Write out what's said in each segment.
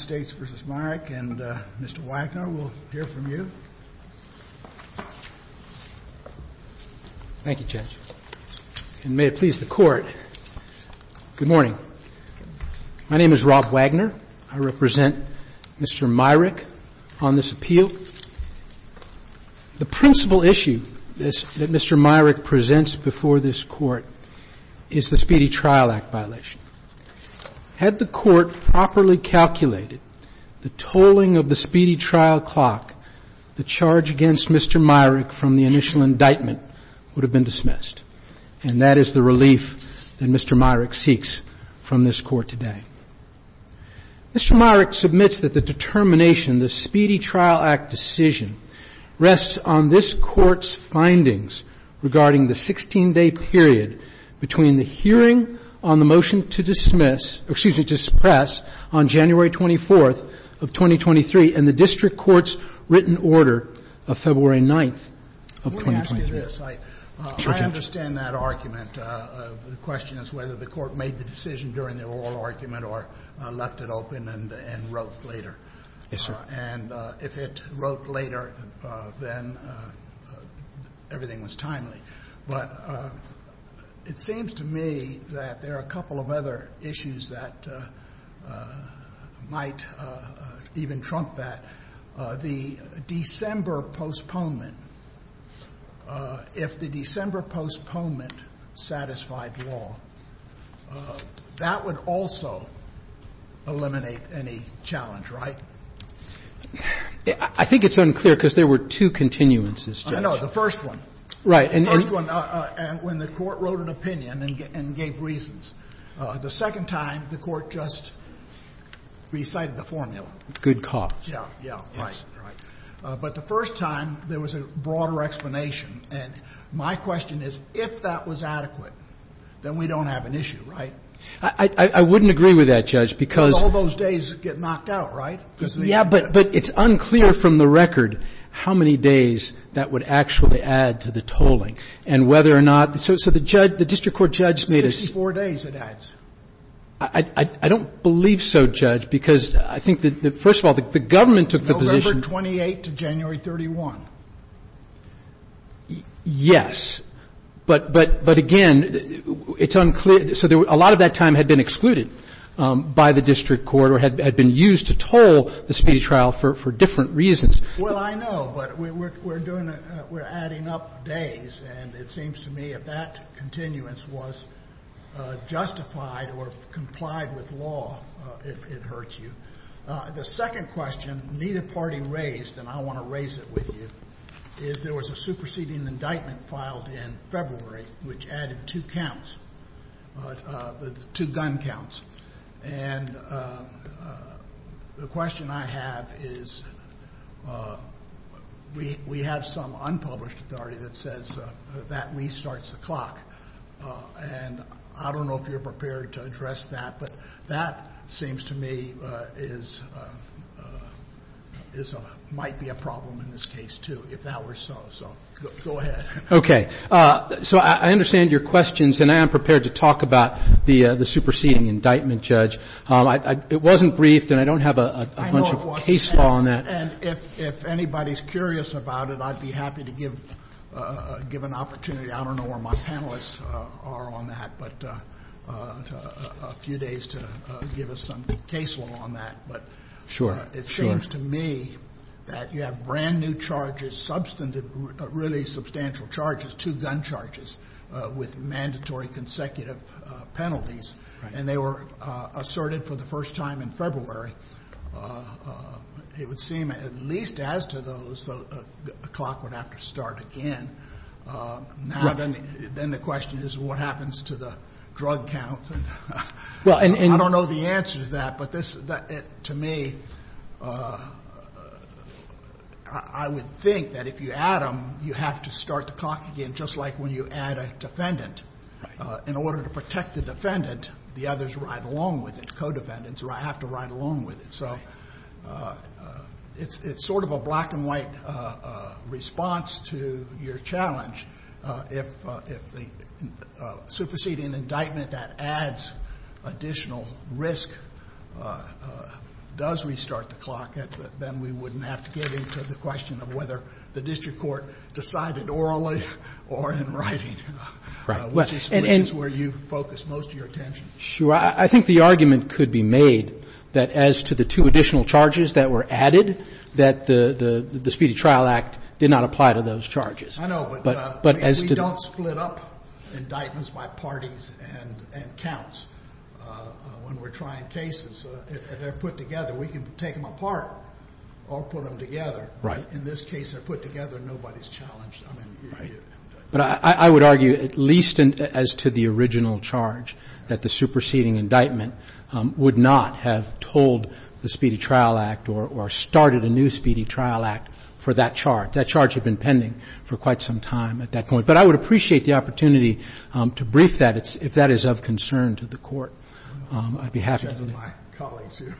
and Mr. Wagner will hear from you. Thank you, Judge. And may it please the Court, good morning. My name is Rob Wagner. I represent Mr. Myrick on this appeal. The principal issue that Mr. Myrick presents before this Court is the Speedy Trial Act violation. Had the Court properly calculated the tolling of the speedy trial clock, the charge against Mr. Myrick from the initial indictment would have been dismissed. And that is the relief that Mr. Myrick seeks from this Court today. Mr. Myrick submits that the determination, the Speedy Trial Act decision, rests on this Court's findings regarding the 16-day period between the hearing on the motion to dismiss or, excuse me, to suppress on January 24th of 2023 and the district court's written order of February 9th of 2023. Let me ask you this. I understand that argument. The question is whether the Court made the decision during the oral argument or left it open and wrote later. Yes, sir. And if it wrote later, then everything was timely. But it seems to me that there are a couple of other issues that might even trump that. The December postponement, if the December postponement satisfied law, that would also eliminate any challenge, right? I think it's unclear because there were two continuances, Judge. I know. The first one. Right. The first one, when the Court wrote an opinion and gave reasons. The second time, the Court just recited the formula. Good cause. Yeah, yeah, right, right. But the first time, there was a broader explanation. And my question is, if that was adequate, then we don't have an issue, right? I wouldn't agree with that, Judge, because All those days get knocked out, right? Yeah, but it's unclear from the record how many days that would actually add to the tolling and whether or not So the district court judge made a 64 days it adds. I don't believe so, Judge, because I think that, first of all, the government took the position November 28 to January 31. Yes. But again, it's unclear. So a lot of that time had been excluded by the district court or had been used to toll the speedy trial for different reasons. Well, I know. But we're adding up days. And it seems to me if that continuance was justified or complied with law, it hurts you. The second question neither party raised, and I want to raise it with you, is there was a superseding indictment filed in February which added two counts, two gun counts. And the question I have is we have some unpublished authority that says that restarts the clock. And I don't know if you're prepared to address that. But that seems to me might be a problem in this case, too, if that were so. So go ahead. Okay. So I understand your questions, and I am prepared to talk about the superseding indictment, Judge. It wasn't briefed, and I don't have a bunch of case law on that. And if anybody's curious about it, I'd be happy to give an opportunity. I don't know where my panelists are on that, but a few days to give us some case law on that. Sure. It seems to me that you have brand-new charges, substantive, really substantial charges, two gun charges with mandatory consecutive penalties. And they were asserted for the first time in February. It would seem at least as to those, a clock would have to start again. Now then the question is what happens to the drug count? I don't know the answer to that, but to me, I would think that if you add them, you have to start the clock again, just like when you add a defendant. In order to protect the defendant, the others ride along with it, co-defendants have to ride along with it. So it's sort of a black-and-white response to your challenge. If the superseding indictment that adds additional risk does restart the clock, then we wouldn't have to get into the question of whether the district court decided orally or in writing, which is where you focus most of your attention. Sure. I think the argument could be made that as to the two additional charges that were added, that the Speedy Trial Act did not apply to those charges. I know, but we don't split up indictments by parties and counts when we're trying cases. They're put together. We can take them apart or put them together. Right. In this case, they're put together, nobody's challenged. Right. But I would argue at least as to the original charge, that the superseding indictment would not have told the Speedy Trial Act or started a new Speedy Trial Act for that charge. That charge had been pending for quite some time at that point. But I would appreciate the opportunity to brief that if that is of concern to the Court. I'd be happy to do that. My colleagues here.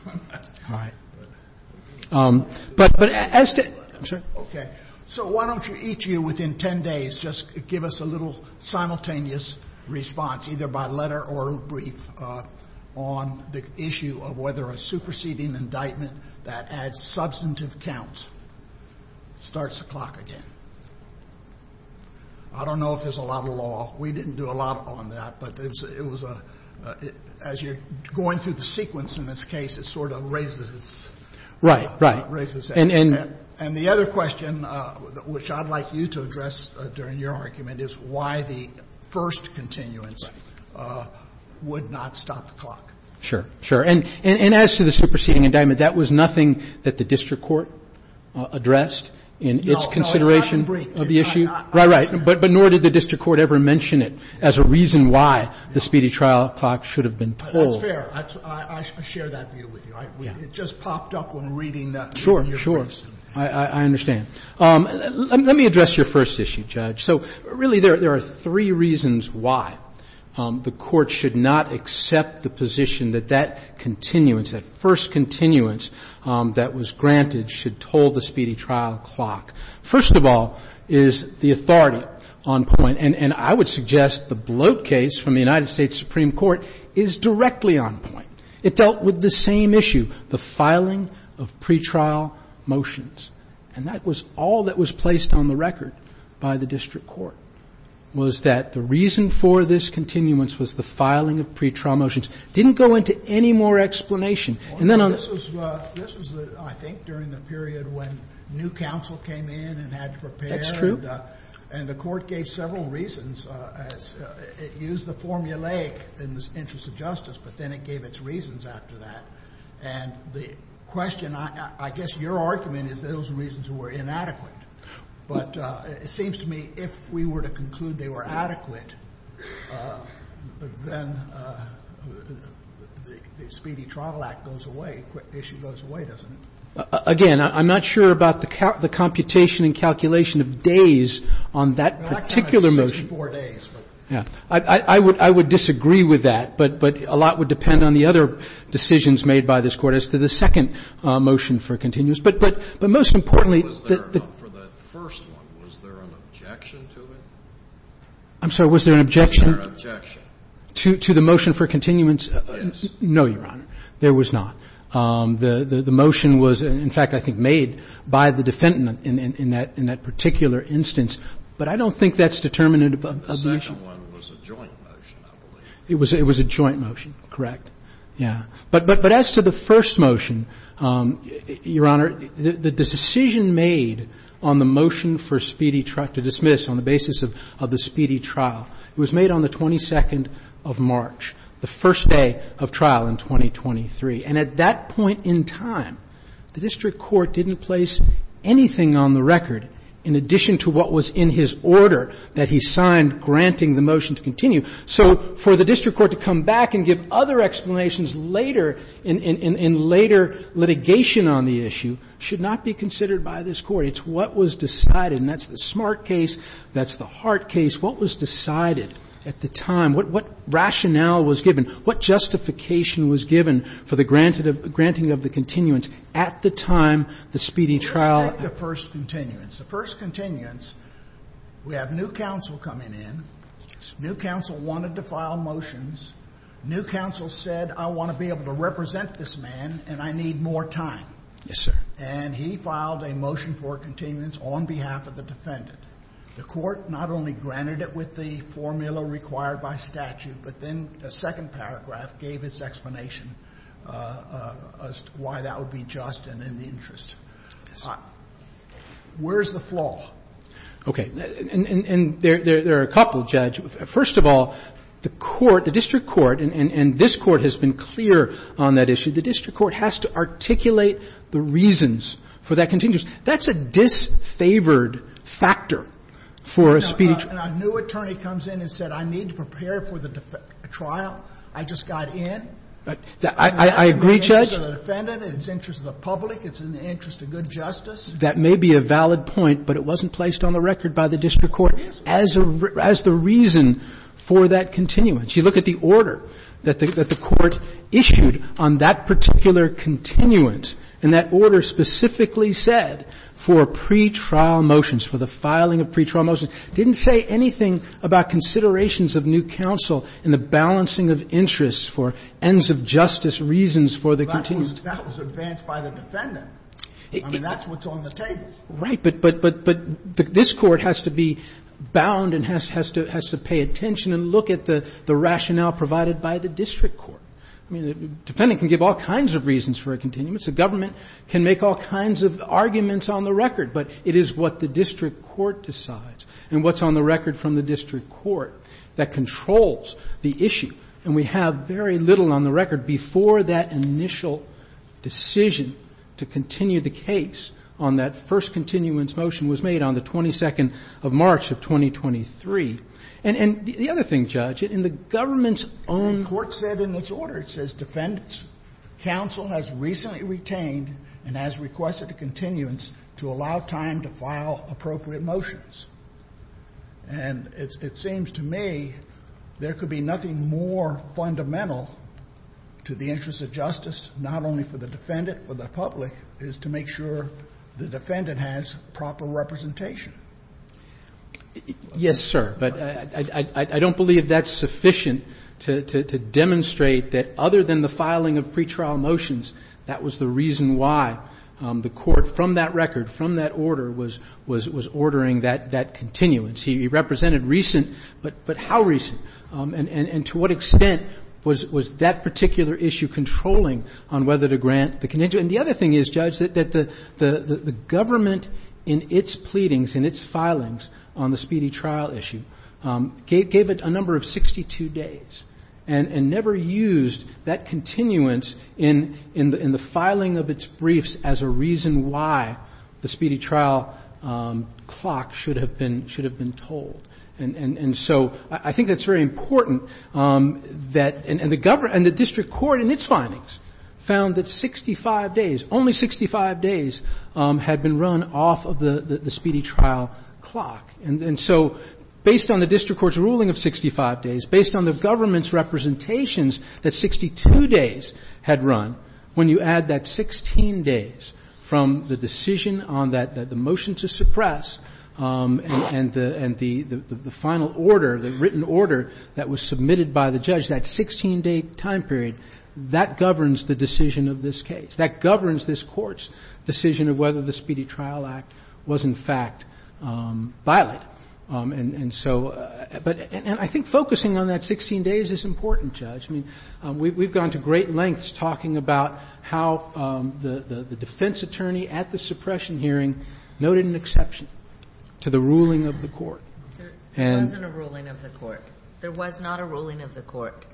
All right. But as to — I'm sorry. Okay. So why don't you each of you within 10 days just give us a little simultaneous response, either by letter or brief, on the issue of whether a superseding indictment that adds substantive counts starts the clock again? I don't know if there's a lot of law. We didn't do a lot on that. But it was a — as you're going through the sequence in this case, it sort of raises — Right, right. Raises that. And the other question, which I'd like you to address during your argument, is why the first continuance would not stop the clock. Sure, sure. And as to the superseding indictment, that was nothing that the district court addressed in its consideration of the issue? Right, right. But nor did the district court ever mention it as a reason why the speedy trial clock should have been pulled. That's fair. I share that view with you. It just popped up when reading your briefs. I understand. Let me address your first issue, Judge. So, really, there are three reasons why the Court should not accept the position that that continuance, that first continuance that was granted, should toll the speedy trial clock. First of all is the authority on point. And I would suggest the Bloat case from the United States Supreme Court is directly on point. It dealt with the same issue, the filing of pretrial motions. And that was all that was placed on the record by the district court, was that the reason for this continuance was the filing of pretrial motions. It didn't go into any more explanation. And then on the other hand, this was, I think, during the period when new counsel came in and had to prepare. That's true. And the Court gave several reasons. It used the formulaic in the interest of justice, but then it gave its reasons after that. And the question, I guess your argument is those reasons were inadequate. But it seems to me, if we were to conclude they were adequate, then the Speedy Trial Act goes away, the issue goes away, doesn't it? Again, I'm not sure about the computation and calculation of days on that particular motion. I would disagree with that. But a lot would depend on the other decisions made by this Court as to the second motion for continuance. But most importantly, the ---- Was there, for the first one, was there an objection to it? I'm sorry. Was there an objection? Was there an objection? To the motion for continuance? Yes. No, Your Honor. There was not. The motion was, in fact, I think, made by the defendant in that particular instance. But I don't think that's determinative of the motion. The second one was a joint motion, I believe. It was a joint motion, correct. Yeah. But as to the first motion, Your Honor, the decision made on the motion for Speedy Trial to dismiss on the basis of the Speedy Trial, it was made on the 22nd of March, the first day of trial in 2023. And at that point in time, the district court didn't place anything on the record in addition to what was in his order that he signed granting the motion to continue. So for the district court to come back and give other explanations later in later litigation on the issue should not be considered by this Court. It's what was decided. And that's the Smart case. That's the Hart case. What was decided at the time? What rationale was given? What justification was given for the granting of the continuance at the time the Speedy Trial? Let's take the first continuance. The first continuance, we have new counsel coming in. New counsel wanted to file motions. New counsel said, I want to be able to represent this man, and I need more time. Yes, sir. And he filed a motion for continuance on behalf of the defendant. The Court not only granted it with the formula required by statute, but then the second paragraph gave its explanation as to why that would be just and in the interest. Yes, sir. Where's the flaw? Okay. And there are a couple, Judge. First of all, the Court, the district court, and this Court has been clear on that issue, the district court has to articulate the reasons for that continuance. That's a disfavored factor for a Speedy Trial. And a new attorney comes in and said, I need to prepare for the trial. I just got in. I agree, Judge. And that's in the interest of the defendant. It's in the interest of the public. It's in the interest of good justice. That may be a valid point, but it wasn't placed on the record by the district court as the reason for that continuance. You look at the order that the Court issued on that particular continuance, and that order specifically said for pretrial motions, for the filing of pretrial motions, didn't say anything about considerations of new counsel and the balancing of interests for ends of justice reasons for the continuance. That was advanced by the defendant. I mean, that's what's on the table. But this Court has to be bound and has to pay attention and look at the rationale provided by the district court. I mean, the defendant can give all kinds of reasons for a continuance. The government can make all kinds of arguments on the record. But it is what the district court decides and what's on the record from the district court that controls the issue. And we have very little on the record before that initial decision to continue the case on that first continuance motion was made on the 22nd of March of 2023. And the other thing, Judge, in the government's own ---- The Court said in its order, it says, ''Defendants, counsel has recently retained and has requested a continuance to allow time to file appropriate motions.'' And it seems to me there could be nothing more fundamental to the interests of justice, not only for the defendant, for the public, is to make sure the defendant has proper representation. Yes, sir. But I don't believe that's sufficient to demonstrate that other than the filing of pretrial motions, that was the reason why the Court from that record, from that order, was ordering that continuance. He represented recent, but how recent? And to what extent was that particular issue controlling on whether to grant the continuance? And the other thing is, Judge, that the government in its pleadings and its filings on the Speedy Trial issue gave it a number of 62 days and never used that continuance in the filing of its briefs as a reason why the Speedy Trial clock should have been told. And so I think that's very important that the government and the district court in its findings found that 65 days, only 65 days, had been run off of the Speedy Trial clock. And so based on the district court's ruling of 65 days, based on the government's representations, that 62 days had run. When you add that 16 days from the decision on that, the motion to suppress, and the final order, the written order that was submitted by the judge, that 16-day time period, that governs the decision of this case. That governs this Court's decision of whether the Speedy Trial Act was in fact violent. And so — and I think focusing on that 16 days is important, Judge. I mean, we've gone to great lengths talking about how the defense attorney at the suppression hearing noted an exception to the ruling of the court. And — It wasn't a ruling of the court. There was not a ruling of the court.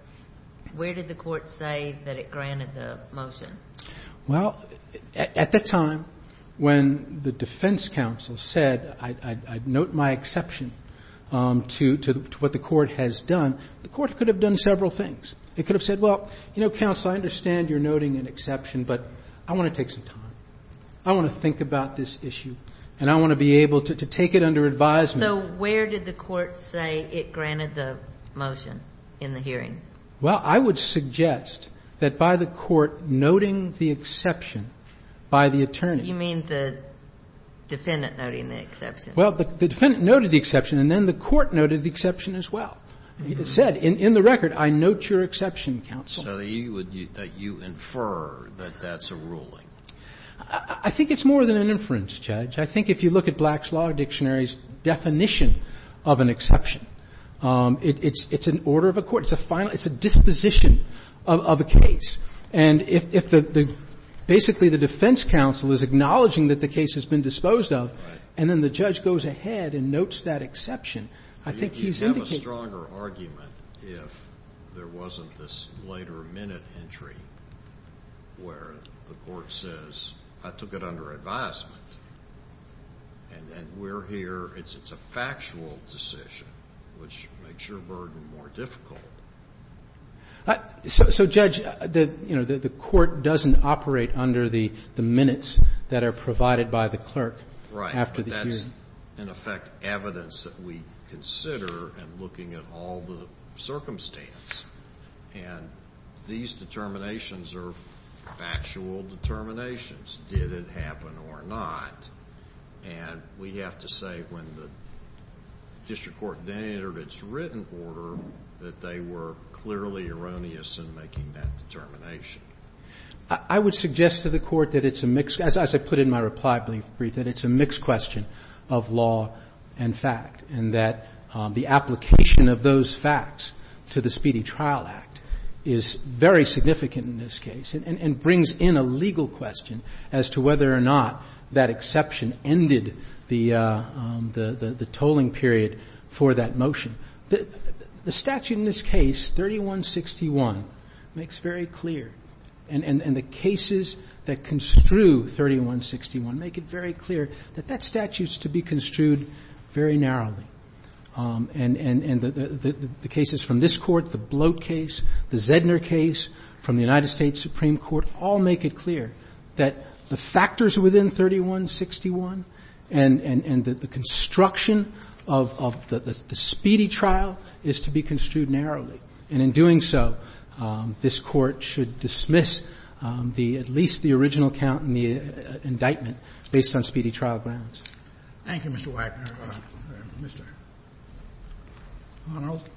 Where did the court say that it granted the motion? Well, at the time when the defense counsel said, I'd note my exception to what the court has done, the court could have done several things. It could have said, well, you know, counsel, I understand you're noting an exception, but I want to take some time. I want to think about this issue, and I want to be able to take it under advisement. So where did the court say it granted the motion in the hearing? Well, I would suggest that by the court noting the exception by the attorney. You mean the defendant noting the exception? Well, the defendant noted the exception, and then the court noted the exception as well. It said in the record, I note your exception, counsel. So that you would — that you infer that that's a ruling. I think it's more than an inference, Judge. I think if you look at Black's Law Dictionary's definition of an exception, it's an order of a court. It's a final — it's a disposition of a case. And if the — basically the defense counsel is acknowledging that the case has been disposed of, and then the judge goes ahead and notes that exception, I think he's You'd have a stronger argument if there wasn't this later minute entry where the court says, I took it under advisement, and then we're here. It's a factual decision, which makes your burden more difficult. So, Judge, you know, the court doesn't operate under the minutes that are provided by the clerk after the hearing. But that's, in effect, evidence that we consider in looking at all the circumstance. And these determinations are factual determinations, did it happen or not. And we have to say when the district court then entered its written order that they were clearly erroneous in making that determination. I would suggest to the Court that it's a mixed — as I put in my reply brief, that it's a mixed question of law and fact, and that the application of those facts to the Speedy Trial Act is very significant in this case and brings in a legal question as to whether or not that exception ended the tolling period for that motion. The statute in this case, 3161, makes very clear, and the cases that construe 3161 make it very clear that that statute is to be construed very narrowly. And the cases from this Court, the Bloat case, the Zedner case from the United States Supreme Court all make it clear that the factors within 3161 and the construction of the Speedy trial is to be construed narrowly. And in doing so, this Court should dismiss the — at least the original count in the indictment based on Speedy trial grounds. Thank you, Mr. Wagner. Mr. Arnold.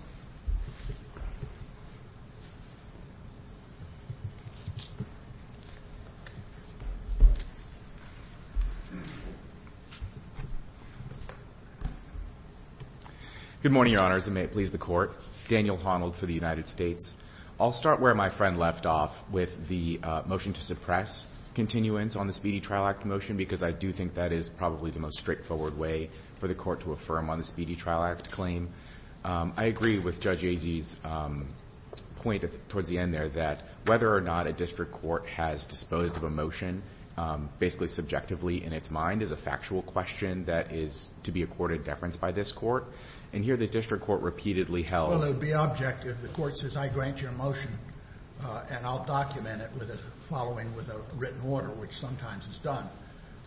Good morning, Your Honors, and may it please the Court. Daniel Arnold for the United States. I'll start where my friend left off with the motion to suppress continuance on the Speedy Trial Act motion, because I do think that is probably the most straightforward way for the Court to affirm on the Speedy Trial Act claim. I agree with Judge Agee's point towards the end there that whether or not a district court has disposed of a motion basically subjectively in its mind is a factual question that is to be accorded deference by this Court. And here the district court repeatedly held — Well, it would be objective. The Court says, I grant your motion and I'll document it with a following with a written order, which sometimes is done.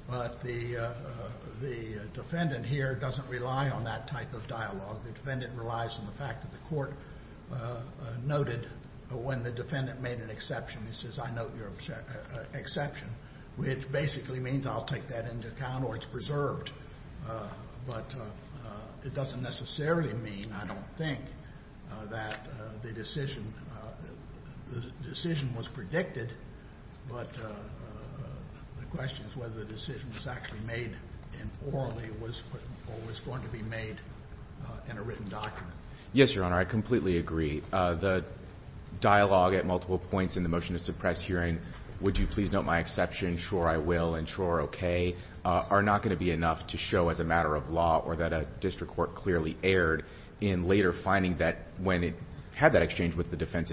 But the defendant here doesn't rely on that type of dialogue. The defendant relies on the fact that the Court noted when the defendant made an exception. It says, I note your exception, which basically means I'll take that into account or it's preserved. But it doesn't necessarily mean, I don't think, that the decision was predicted, but the question is whether the decision was actually made orally or was going to be made in a written document. Yes, Your Honor, I completely agree. The dialogue at multiple points in the motion to suppress hearing, would you please note my exception, sure I will and sure, okay, are not going to be enough to show as a matter of law or that a district court clearly erred in later finding that when it had that exchange with the defense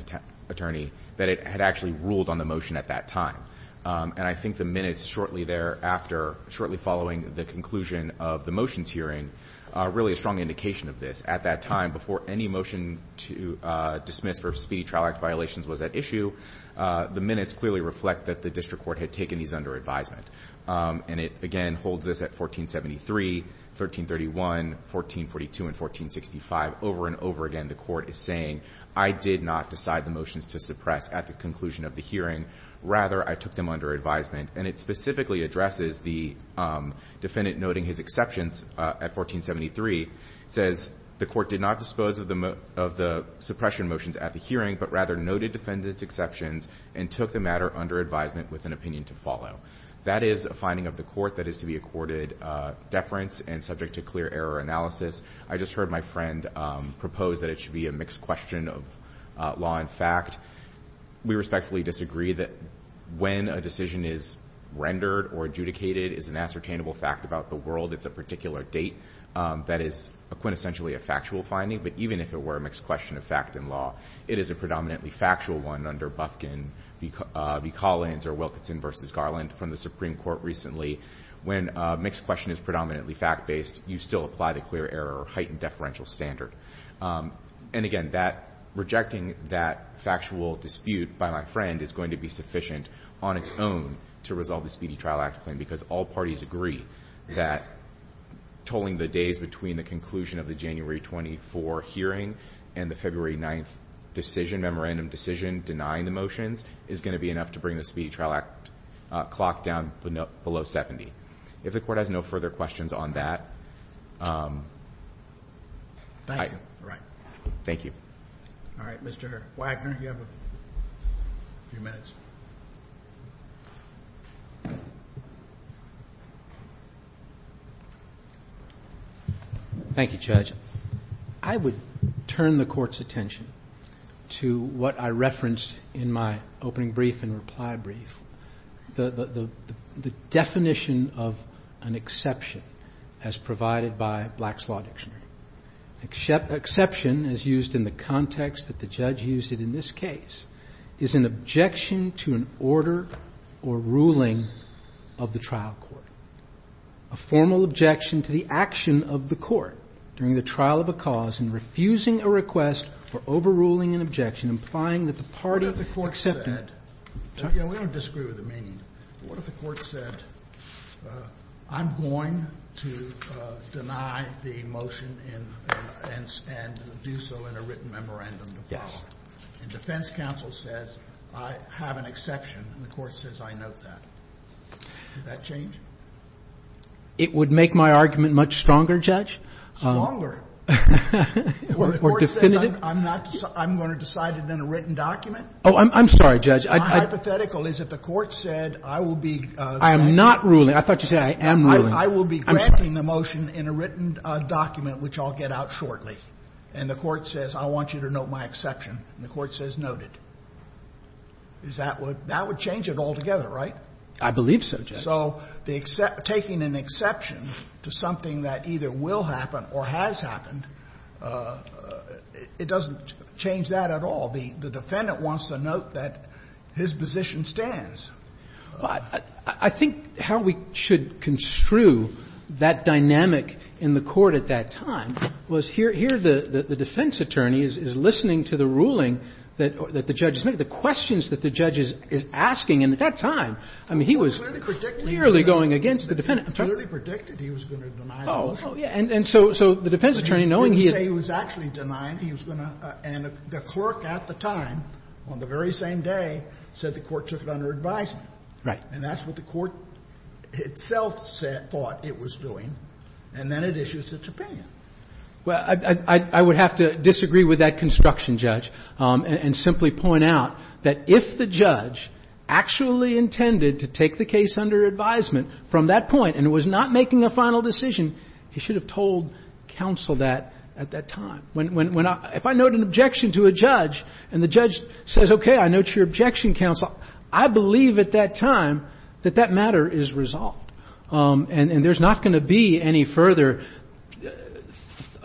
attorney that it had actually ruled on the motion at that time. And I think the minutes shortly thereafter, shortly following the conclusion of the motions hearing, are really a strong indication of this. At that time, before any motion to dismiss v. Speedy Trial Act violations was at issue, the minutes clearly reflect that the district court had taken these under advisement. And it, again, holds this at 1473, 1331, 1442, and 1465. Over and over again, the Court is saying, I did not decide the motions to suppress at the conclusion of the hearing. Rather, I took them under advisement. And it specifically addresses the defendant noting his exceptions at 1473. It says, the Court did not dispose of the suppression motions at the hearing, but rather noted defendant's exceptions and took the matter under advisement with an opinion to follow. That is a finding of the Court that is to be accorded deference and subject to clear error analysis. I just heard my friend propose that it should be a mixed question of law and fact. We respectfully disagree that when a decision is rendered or adjudicated is an ascertainable fact about the world. It's a particular date that is quintessentially a factual finding. But even if it were a mixed question of fact and law, it is a predominantly factual one under Bufkin v. Collins or Wilkinson v. Garland from the Supreme Court recently. When a mixed question is predominantly fact-based, you still apply the clear error or heightened deferential standard. And again, rejecting that factual dispute by my friend is going to be sufficient on its own to resolve the Speedy Trial Act claim, because all parties agree that totaling the days between the conclusion of the January 24 hearing and the February 9th decision, memorandum decision denying the motions, is going to be enough to bring the Speedy Trial Act clock down below 70. If the Court has no further questions on that. Thank you. All right. Thank you. All right. Mr. Wagner, you have a few minutes. Thank you, Judge. I would turn the Court's attention to what I referenced in my opening brief and reply brief. The definition of an exception as provided by Black's Law Dictionary. Exception, as used in the context that the judge used it in this case, is an objection to an order or ruling of the trial court. A formal objection to the action of the court during the trial of a cause in refusing a request for overruling an objection implying that the part of the court What if the court said, you know, we don't disagree with the meaning, but what if the court said I'm going to deny the motion and do so in a written memorandum to follow? And defense counsel says I have an exception and the court says I note that. Would that change? It would make my argument much stronger, Judge. Stronger? Or definitive? Or the court says I'm going to decide it in a written document? Oh, I'm sorry, Judge. My hypothetical is if the court said I will be I am not ruling. I thought you said I am ruling. I will be granting the motion in a written document, which I'll get out shortly. And the court says I want you to note my exception. And the court says noted. That would change it altogether, right? I believe so, Judge. So taking an exception to something that either will happen or has happened, it doesn't change that at all. The defendant wants to note that his position stands. I think how we should construe that dynamic in the court at that time was here the defense attorney is listening to the ruling that the judge is making, the questions that the judge is asking. And at that time, I mean, he was clearly going against the defendant. He clearly predicted he was going to deny the motion. Oh, yeah. And so the defense attorney, knowing he is He didn't say he was actually denying. He was going to. And the clerk at the time, on the very same day, said the court took it under advisement. Right. And that's what the court itself said, thought it was doing. And then it issues its opinion. Well, I would have to disagree with that construction, Judge, and simply point out that if the judge actually intended to take the case under advisement from that point and was not making a final decision, he should have told counsel that at that time. If I note an objection to a judge and the judge says, okay, I note your objection, counsel, I believe at that time that that matter is resolved. And there's not going to be any further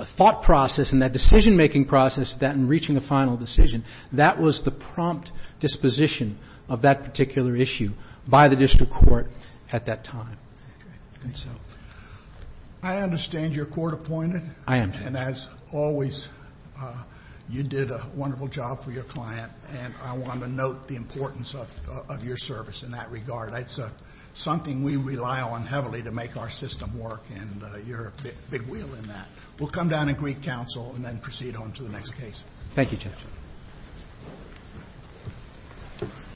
thought process in that decision-making process than reaching a final decision. That was the prompt disposition of that particular issue by the district court at that time. Thank you. I understand you're court-appointed. I am, Judge. And as always, you did a wonderful job for your client. And I want to note the importance of your service in that regard. It's something we rely on heavily to make our system work, and you're a big wheel in that. We'll come down and greet counsel and then proceed on to the next case. Thank you, Judge. Thank you, Judge.